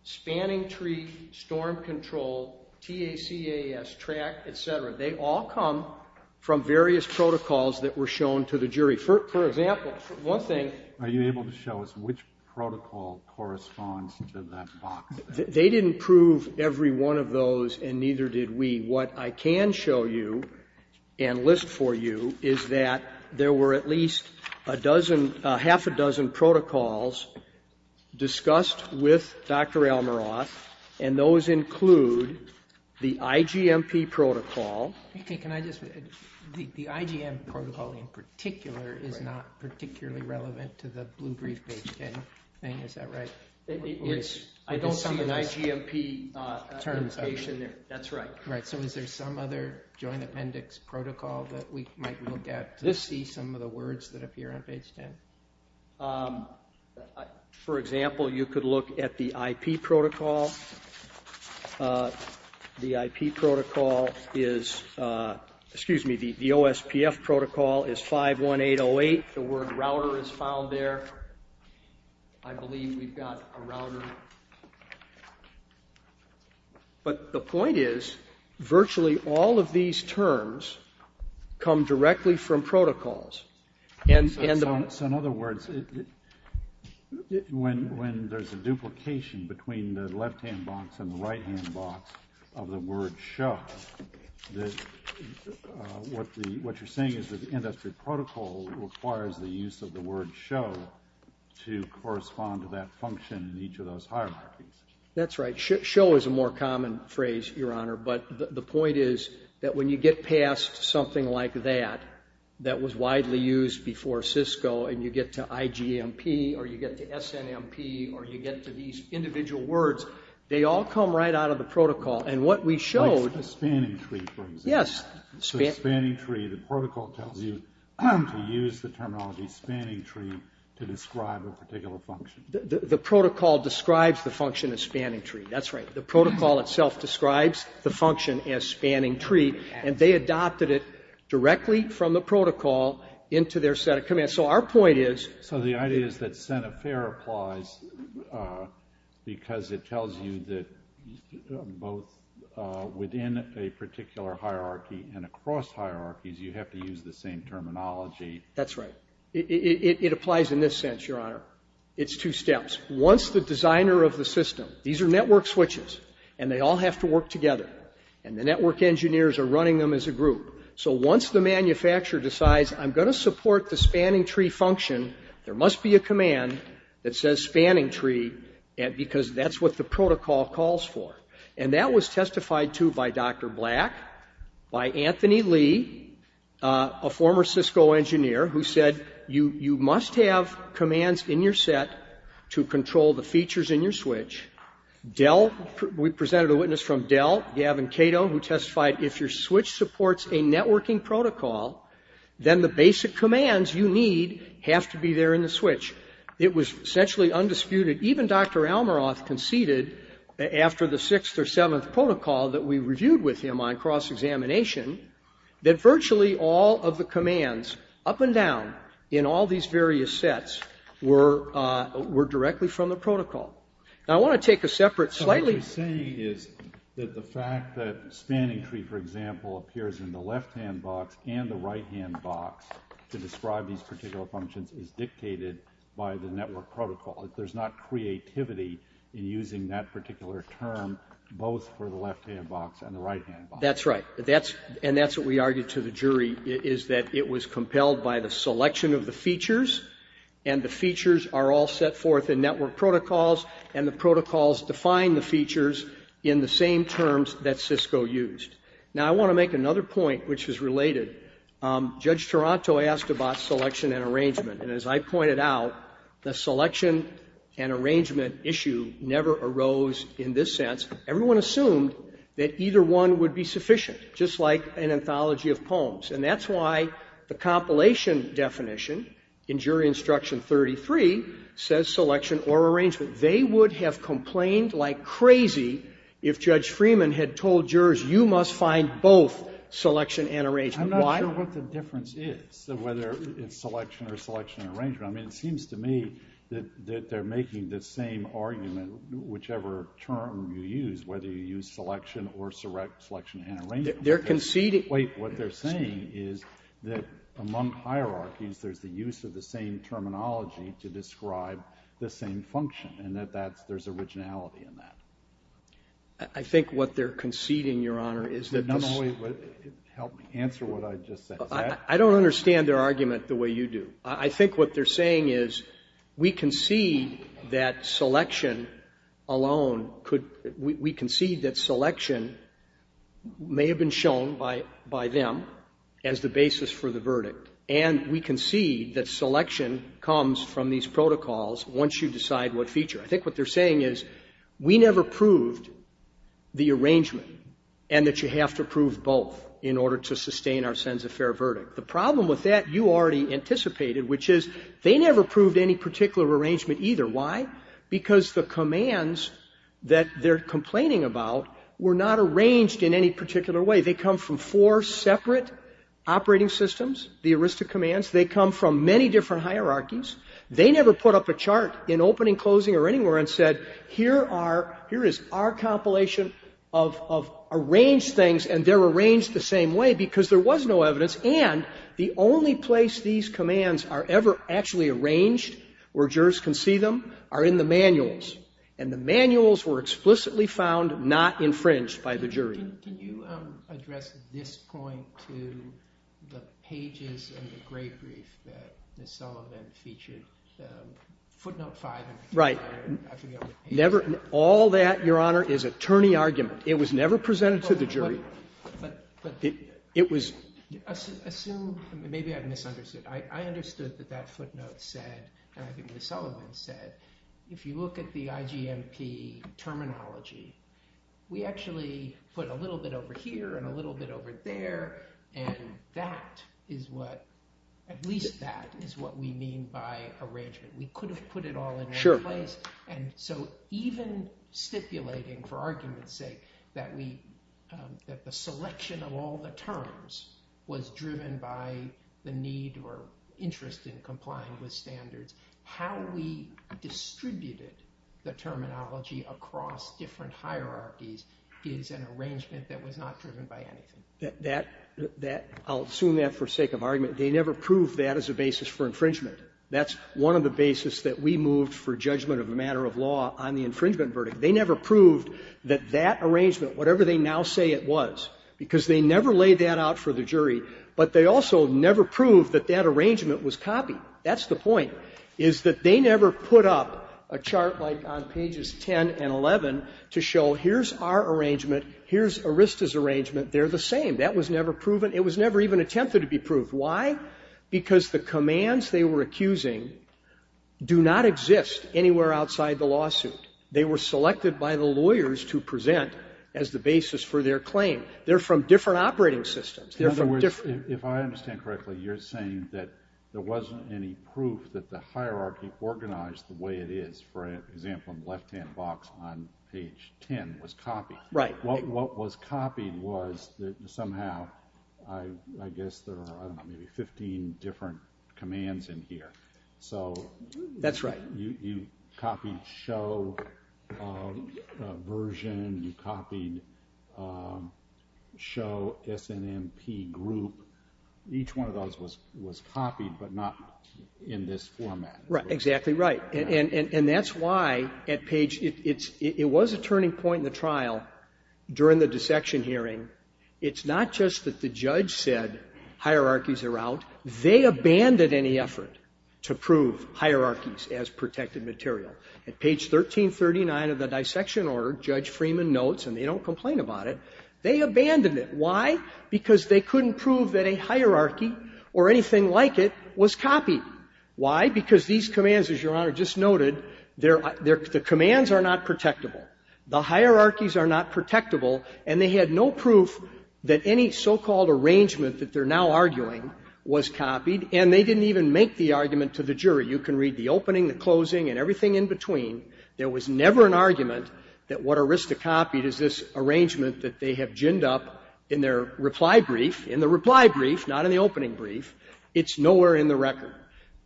spanning tree, storm control, TACAS, TRAC, etc., they all come from various protocols that were shown to the jury. For example, one thing— Are you able to show us which protocol corresponds to that box? They didn't prove every one of those, and neither did we. What I can show you and list for you is that there were at least half a dozen protocols discussed with Dr. Almaroth, and those include the IGMP protocol. The IGMP protocol in particular is not particularly relevant to the blue brief page 10 thing. Is that right? I don't see an IGMP application there. That's right. Is there some other joint appendix protocol that we might look at to see some of the words that appear on page 10? For example, you could look at the IP protocol. The IP protocol is—excuse me, the OSPF protocol is 51808. The word router is found there. I believe we've got a router. But the point is virtually all of these terms come directly from protocols. So in other words, when there's a duplication between the left-hand box and the right-hand box of the word show, what you're saying is that the industry protocol requires the use of the word show to correspond to that function in each of those hierarchies. That's right. Show is a more common phrase, Your Honor. But the point is that when you get past something like that that was widely used before Cisco and you get to IGMP or you get to SNMP or you get to these individual words, they all come right out of the protocol. And what we showed— Like the spanning tree, for example. Yes. So the spanning tree, the protocol tells you to use the terminology spanning tree to describe a particular function. The protocol describes the function as spanning tree. That's right. The protocol itself describes the function as spanning tree, and they adopted it directly from the protocol into their set of commands. So our point is— So the idea is that sent a fair applies because it tells you that both within a particular hierarchy, and across hierarchies, you have to use the same terminology. That's right. It applies in this sense, Your Honor. It's two steps. Once the designer of the system—these are network switches, and they all have to work together, and the network engineers are running them as a group. So once the manufacturer decides I'm going to support the spanning tree function, there must be a command that says spanning tree because that's what the protocol calls for. And that was testified to by Dr. Black, by Anthony Lee, a former Cisco engineer, who said you must have commands in your set to control the features in your switch. Dell—we presented a witness from Dell, Gavin Cato, who testified if your switch supports a networking protocol, then the basic commands you need have to be there in the switch. It was essentially undisputed. Even Dr. Almaroth conceded after the sixth or seventh protocol that we reviewed with him on cross-examination that virtually all of the commands up and down in all these various sets were directly from the protocol. Now, I want to take a separate slightly— So what he's saying is that the fact that spanning tree, for example, appears in the left-hand box and the right-hand box to describe these particular functions is dictated by the network protocol. There's not creativity in using that particular term both for the left-hand box and the right-hand box. That's right. And that's what we argued to the jury, is that it was compelled by the selection of the features, and the features are all set forth in network protocols, and the protocols define the features in the same terms that Cisco used. Now, I want to make another point, which is related. Judge Toronto asked about selection and arrangement. And as I pointed out, the selection and arrangement issue never arose in this sense. Everyone assumed that either one would be sufficient, just like an anthology of poems. And that's why the compilation definition in Jury Instruction 33 says selection or arrangement. They would have complained like crazy if Judge Freeman had told jurors, you must find both selection and arrangement. Why? I don't know what the difference is, whether it's selection or selection and arrangement. I mean, it seems to me that they're making the same argument, whichever term you use, whether you use selection or selection and arrangement. They're conceding. Wait. What they're saying is that among hierarchies, there's the use of the same terminology to describe the same function, and that there's originality in that. I think what they're conceding, Your Honor, is that this ---- Can you help me answer what I just said? I don't understand their argument the way you do. I think what they're saying is we concede that selection alone could ---- we concede that selection may have been shown by them as the basis for the verdict, and we concede that selection comes from these protocols once you decide what feature. I think what they're saying is we never proved the arrangement and that you have to prove both in order to sustain our sense of fair verdict. The problem with that, you already anticipated, which is they never proved any particular arrangement either. Why? Because the commands that they're complaining about were not arranged in any particular way. They come from four separate operating systems, the aristic commands. They come from many different hierarchies. They never put up a chart in opening, closing, or anywhere and said here are ---- here is our compilation of arranged things, and they're arranged the same way because there was no evidence. And the only place these commands are ever actually arranged where jurors can see them are in the manuals. And the manuals were explicitly found not infringed by the jury. Can you address this point to the pages in the gray brief that Ms. Sullivan featured? Footnote 5. All that, Your Honor, is attorney argument. It was never presented to the jury. But it was ---- Maybe I misunderstood. I understood that that footnote said, and I think Ms. Sullivan said, if you look at the IGMP terminology, we actually put a little bit over here and a little bit over there, and that is what ---- at least that is what we mean by arrangement. We could have put it all in one place. Sure. And so even stipulating for argument's sake that we ---- that the selection of all the terminology across different hierarchies is an arrangement that was not driven by anything. That ---- I'll assume that for sake of argument. They never proved that as a basis for infringement. That's one of the basis that we moved for judgment of a matter of law on the infringement verdict. They never proved that that arrangement, whatever they now say it was, because they never laid that out for the jury, but they also never proved that that arrangement was copied. That's the point, is that they never put up a chart like on pages 10 and 11 to show here's our arrangement, here's ERISTA's arrangement. They're the same. That was never proven. It was never even attempted to be proved. Why? Because the commands they were accusing do not exist anywhere outside the lawsuit. They were selected by the lawyers to present as the basis for their claim. They're from different operating systems. They're from different ---- If I understand correctly, you're saying that there wasn't any proof that the hierarchy organized the way it is. For example, in the left-hand box on page 10 was copied. Right. What was copied was that somehow, I guess there are maybe 15 different commands in here. That's right. You copied show version. You copied show SNMP group. Each one of those was copied, but not in this format. Exactly right. And that's why at page ---- it was a turning point in the trial during the dissection hearing. It's not just that the judge said hierarchies are out. They abandoned any effort to prove hierarchies as protected material. At page 1339 of the dissection order, Judge Freeman notes, and they don't complain about it, they abandoned it. Why? Because they couldn't prove that a hierarchy or anything like it was copied. Why? Because these commands, as Your Honor just noted, the commands are not protectable. The hierarchies are not protectable, and they had no proof that any so-called arrangement that they're now arguing was copied. And they didn't even make the argument to the jury. You can read the opening, the closing, and everything in between. There was never an argument that what Arista copied is this arrangement that they have ginned up in their reply brief, in the reply brief, not in the opening brief. It's nowhere in the record.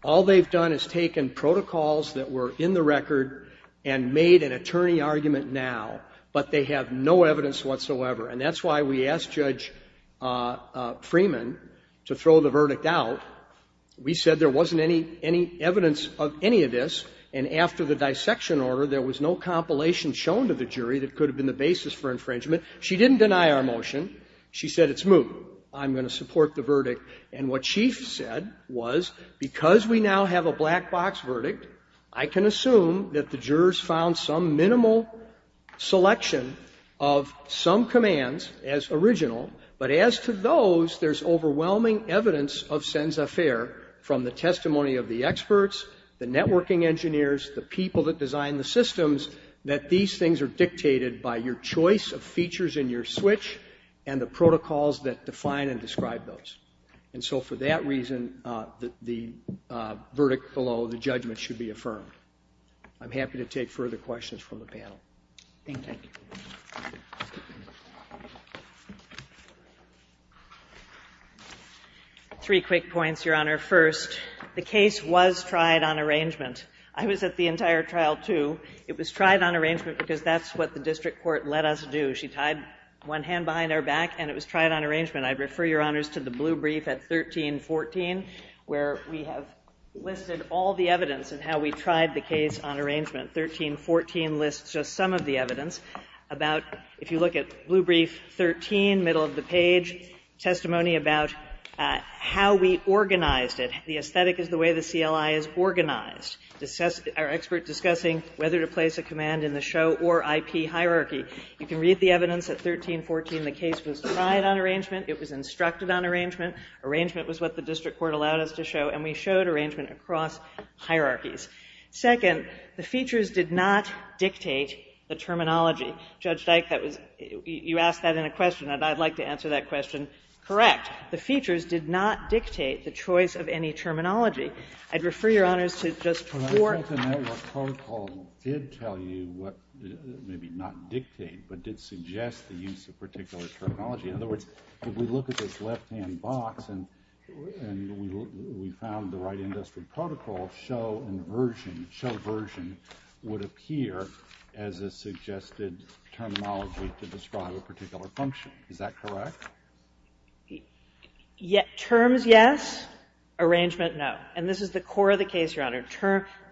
All they've done is taken protocols that were in the record and made an attorney argument now, but they have no evidence whatsoever. And that's why we asked Judge Freeman to throw the verdict out. We said there wasn't any evidence of any of this. And after the dissection order, there was no compilation shown to the jury that could have been the basis for infringement. She didn't deny our motion. She said it's moot. I'm going to support the verdict. And what she said was, because we now have a black box verdict, I can assume that the jurors found some minimal selection of some commands as original. But as to those, there's overwhelming evidence of sens affaire from the testimony of the experts, the networking engineers, the people that designed the systems, that these things are dictated by your choice of features in your switch and the protocols that define and describe those. And so for that reason, the verdict below, the judgment should be affirmed. I'm happy to take further questions from the panel. Thank you. Three quick points, Your Honor. First, the case was tried on arrangement. I was at the entire trial, too. It was tried on arrangement because that's what the district court let us do. She tied one hand behind our back and it was tried on arrangement. I'd refer Your Honors to the blue brief at 13-14 where we have listed all the cases on arrangement. 13-14 lists just some of the evidence about, if you look at blue brief 13, middle of the page, testimony about how we organized it. The aesthetic is the way the CLI is organized. Our experts discussing whether to place a command in the show or IP hierarchy. You can read the evidence at 13-14. The case was tried on arrangement. It was instructed on arrangement. Arrangement was what the district court allowed us to show, and we showed arrangement across hierarchies. Second, the features did not dictate the terminology. Judge Dyke, you asked that in a question, and I'd like to answer that question correct. The features did not dictate the choice of any terminology. I'd refer Your Honors to just four. The network protocol did tell you, maybe not dictate, but did suggest the use of particular terminology. In other words, if we look at this left-hand box and we found the right industry protocol, show and version, show version would appear as a suggested terminology to describe a particular function. Is that correct? Terms, yes. Arrangement, no. And this is the core of the case, Your Honor.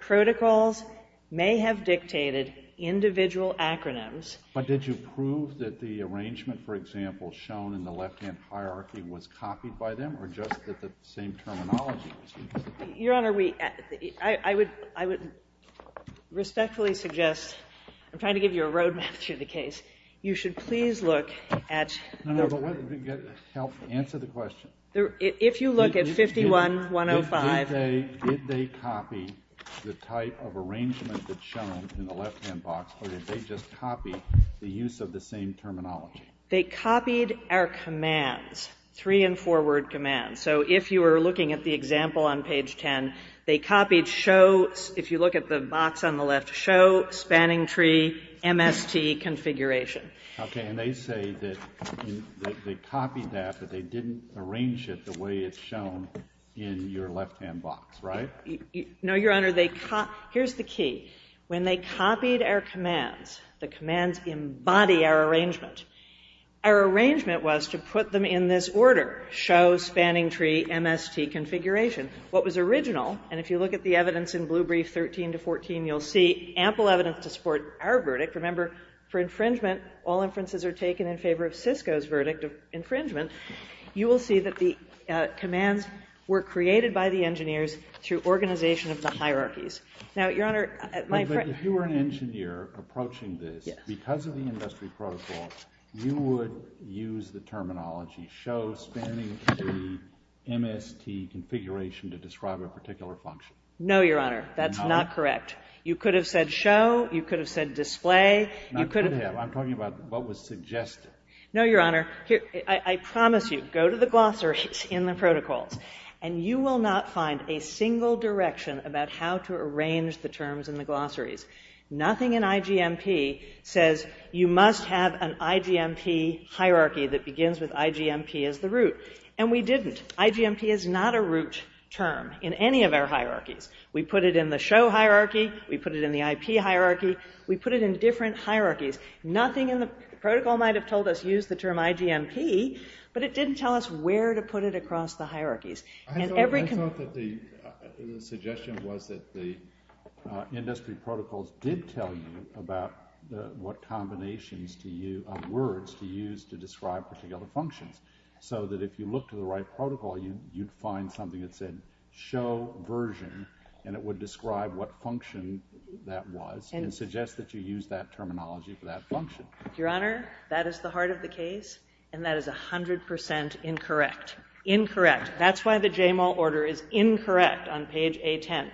Protocols may have dictated individual acronyms. But did you prove that the arrangement, for example, shown in the left-hand hierarchy was copied by them, or just that the same terminology was used? Your Honor, I would respectfully suggest, I'm trying to give you a road map through the case. You should please look at the. Answer the question. If you look at 51-105. Did they copy the type of arrangement that's shown in the left-hand box, or did they just copy the use of the same terminology? They copied our commands, three- and four-word commands. So if you were looking at the example on page 10, they copied show, if you look at the box on the left, show, spanning tree, MST configuration. Okay, and they say that they copied that, but they didn't arrange it the way it's shown in your left-hand box, right? No, Your Honor. Here's the key. When they copied our commands, the commands embody our arrangement. Our arrangement was to put them in this order, show, spanning tree, MST configuration. What was original, and if you look at the evidence in Blue Brief 13-14, you'll see ample evidence to support our verdict. Remember, for infringement, all inferences are taken in favor of Cisco's verdict of infringement. You will see that the commands were created by the engineers through organization of the hierarchies. Now, Your Honor, my friend. But if you were an engineer approaching this, because of the industry protocol, you would use the terminology show, spanning tree, MST configuration to describe a particular function. No, Your Honor. That's not correct. You could have said show. You could have said display. Not could have. I'm talking about what was suggested. No, Your Honor. I promise you, go to the glossaries in the protocols, and you will not find a single direction about how to arrange the terms in the glossaries. Nothing in IGMP says you must have an IGMP hierarchy that begins with IGMP as the root. And we didn't. IGMP is not a root term in any of our hierarchies. We put it in the show hierarchy. We put it in the IP hierarchy. We put it in different hierarchies. Nothing in the protocol might have told us use the term IGMP, but it didn't tell us where to put it across the hierarchies. I thought that the suggestion was that the industry protocols did tell you about what combinations of words to use to describe particular functions, so that if you look to the right protocol, you'd find something that said show version, and it would describe what function that was and suggest that you use that terminology for that function. Your Honor, that is the heart of the case, and that is 100% incorrect. Incorrect. That's why the JMAL order is incorrect on page A10.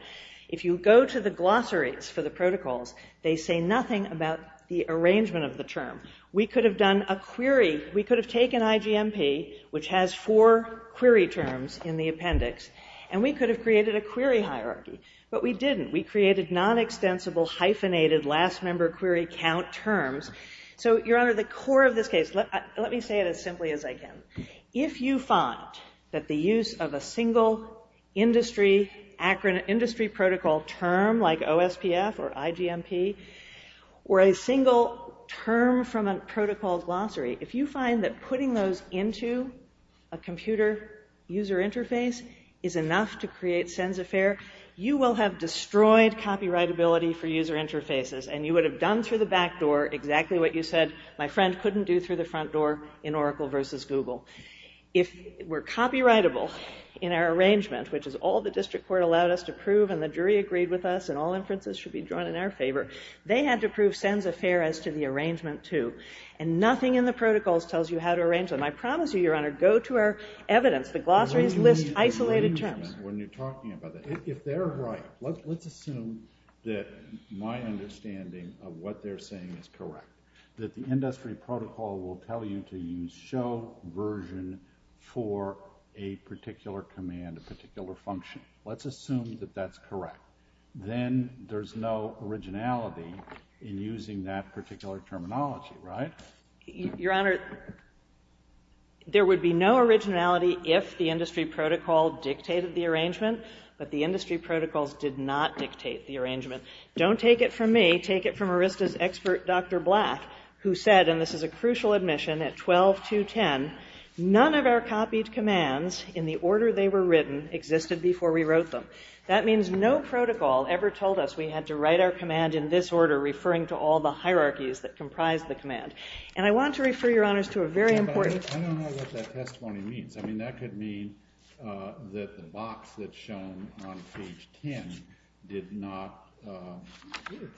If you go to the glossaries for the protocols, they say nothing about the arrangement of the term. We could have done a query. We could have taken IGMP, which has four query terms in the appendix, and we could have created a query hierarchy, but we didn't. We created non-extensible hyphenated last member query count terms. So, Your Honor, the core of this case, let me say it as simply as I can. If you find that the use of a single industry protocol term, like OSPF or IGMP, or a single term from a protocol glossary, if you find that putting those into a computer user interface is enough to create sense of fare, you will have destroyed copyrightability for user interfaces, and you would have done through the back door exactly what you said my friend couldn't do through the front door in Oracle versus Google. If we're copyrightable in our arrangement, which is all the district court allowed us to prove and the jury agreed with us and all inferences should be drawn in our favor, they had to prove sense of fare as to the arrangement, too. And nothing in the protocols tells you how to arrange them. I promise you, Your Honor, go to our evidence. The glossaries list isolated terms. If they're right, let's assume that my understanding of what they're saying is correct, that the industry protocol will tell you to use show version for a particular command, a particular function. Let's assume that that's correct. Then there's no originality in using that particular terminology, right? Your Honor, there would be no originality if the industry protocol dictated the arrangement, but the industry protocols did not dictate the arrangement. Don't take it from me. Take it from ARISTA's expert, Dr. Black, who said, and this is a crucial admission at 12.2.10, none of our copied commands in the order they were written existed before we wrote them. That means no protocol ever told us we had to write our command in this order referring to all the hierarchies that comprise the command. And I want to refer, Your Honors, to a very important... I don't know what that testimony means. I mean, that could mean that the box that's shown on page 10 did not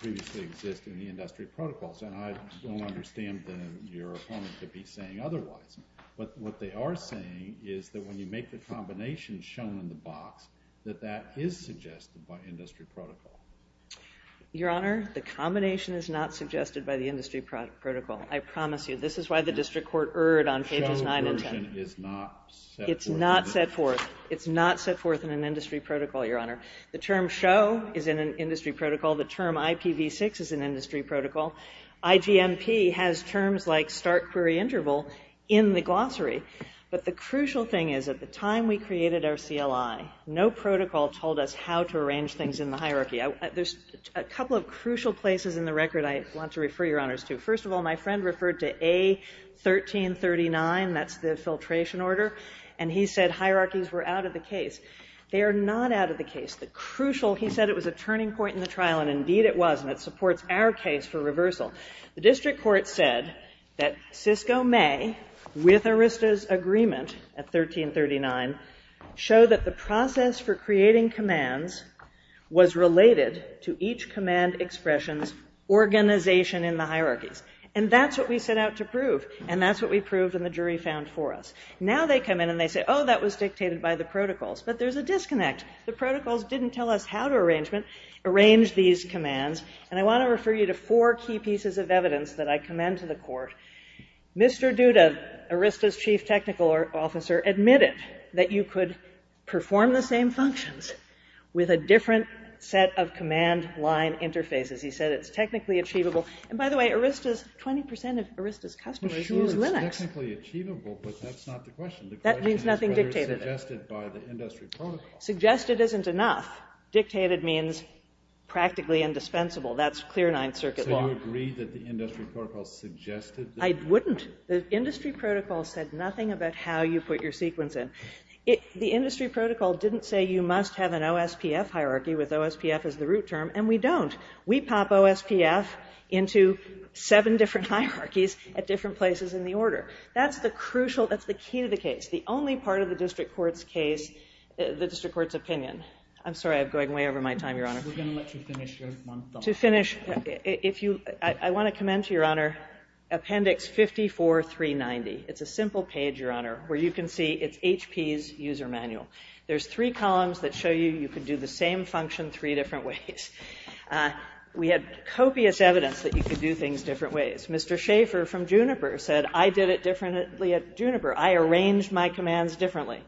previously exist in the industry protocols, and I don't understand your opponent to be saying otherwise. But what they are saying is that when you make the combination shown in the box, that that is suggested by industry protocol. Your Honor, the combination is not suggested by the industry protocol. I promise you. This is why the district court erred on pages 9 and 10. The show version is not set forth... It's not set forth. It's not set forth in an industry protocol, Your Honor. The term show is in an industry protocol. The term IPv6 is an industry protocol. IGMP has terms like start query interval in the glossary. But the crucial thing is at the time we created our CLI, no protocol told us how to arrange things in the hierarchy. There's a couple of crucial places in the record I want to refer, Your Honors, to. First of all, my friend referred to A1339. That's the filtration order. And he said hierarchies were out of the case. They are not out of the case. The crucial... He said it was a turning point in the trial, and indeed it was, and it supports our case for reversal. The district court said that Cisco may, with Arista's agreement at 1339, show that the process for creating commands was related to each command expression's organization in the hierarchies. And that's what we set out to prove. And that's what we proved and the jury found for us. Now they come in and they say, oh, that was dictated by the protocols. But there's a disconnect. The protocols didn't tell us how to arrange these commands. And I want to refer you to four key pieces of evidence that I commend to the court. Mr. Duda, Arista's chief technical officer, admitted that you could perform the same functions with a different set of command line interfaces. He said it's technically achievable. And by the way, 20% of Arista's customers use Linux. It's technically achievable, but that's not the question. The question is whether it's suggested by the industry protocol. Suggested isn't enough. Dictated means practically indispensable. That's clear Ninth Circuit law. So you agree that the industry protocol suggested that? I wouldn't. The industry protocol said nothing about how you put your sequence in. The industry protocol didn't say you must have an OSPF hierarchy, with OSPF as the root term, and we don't. We pop OSPF into seven different hierarchies at different places in the order. That's the crucial, that's the key to the case. The only part of the district court's case, the district court's opinion. I'm sorry, I'm going way over my time, Your Honor. We're going to let you finish your month on that. To finish, I want to commend to Your Honor Appendix 54-390. It's a simple page, Your Honor, where you can see it's HP's user manual. There's three columns that show you you can do the same function three different ways. We had copious evidence that you could do things different ways. Mr. Schaefer from Juniper said, I did it differently at Juniper. I arranged my commands differently.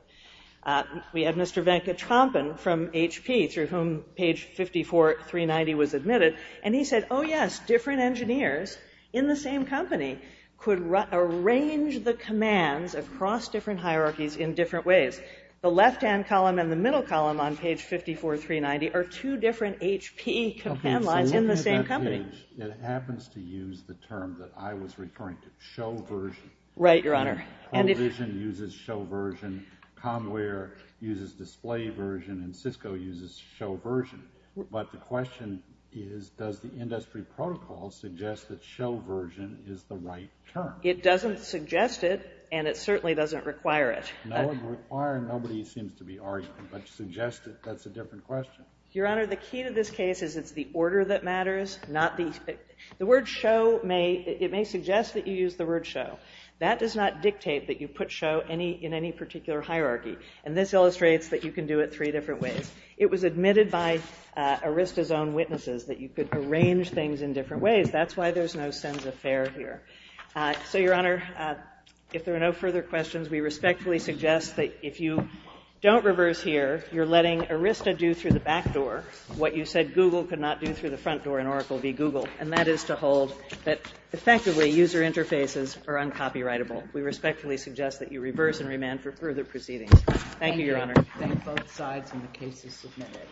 We had Mr. Venkatrampan from HP, through whom page 54-390 was admitted, and he said, oh, yes, different engineers in the same company could arrange the commands across different hierarchies in different ways. The left-hand column and the middle column on page 54-390 are two different HP command lines in the same company. Okay, so look at that page. It happens to use the term that I was referring to, show version. Right, Your Honor. ProVision uses show version, Comware uses display version, and Cisco uses show version. But the question is, does the industry protocol suggest that show version is the right term? It doesn't suggest it, and it certainly doesn't require it. No, it doesn't require it, and nobody seems to be arguing. But to suggest it, that's a different question. Your Honor, the key to this case is it's the order that matters, not the— the word show may—it may suggest that you use the word show. That does not dictate that you put show in any particular hierarchy, and this illustrates that you can do it three different ways. It was admitted by Arista's own witnesses that you could arrange things in different ways. That's why there's no sense of fair here. So, Your Honor, if there are no further questions, we respectfully suggest that if you don't reverse here, you're letting Arista do through the back door what you said Google could not do through the front door in Oracle v. Google, and that is to hold that effectively user interfaces are uncopyrightable. We respectfully suggest that you reverse and remand for further proceedings. Thank you, Your Honor. Thank you. Thank both sides, and the case is submitted.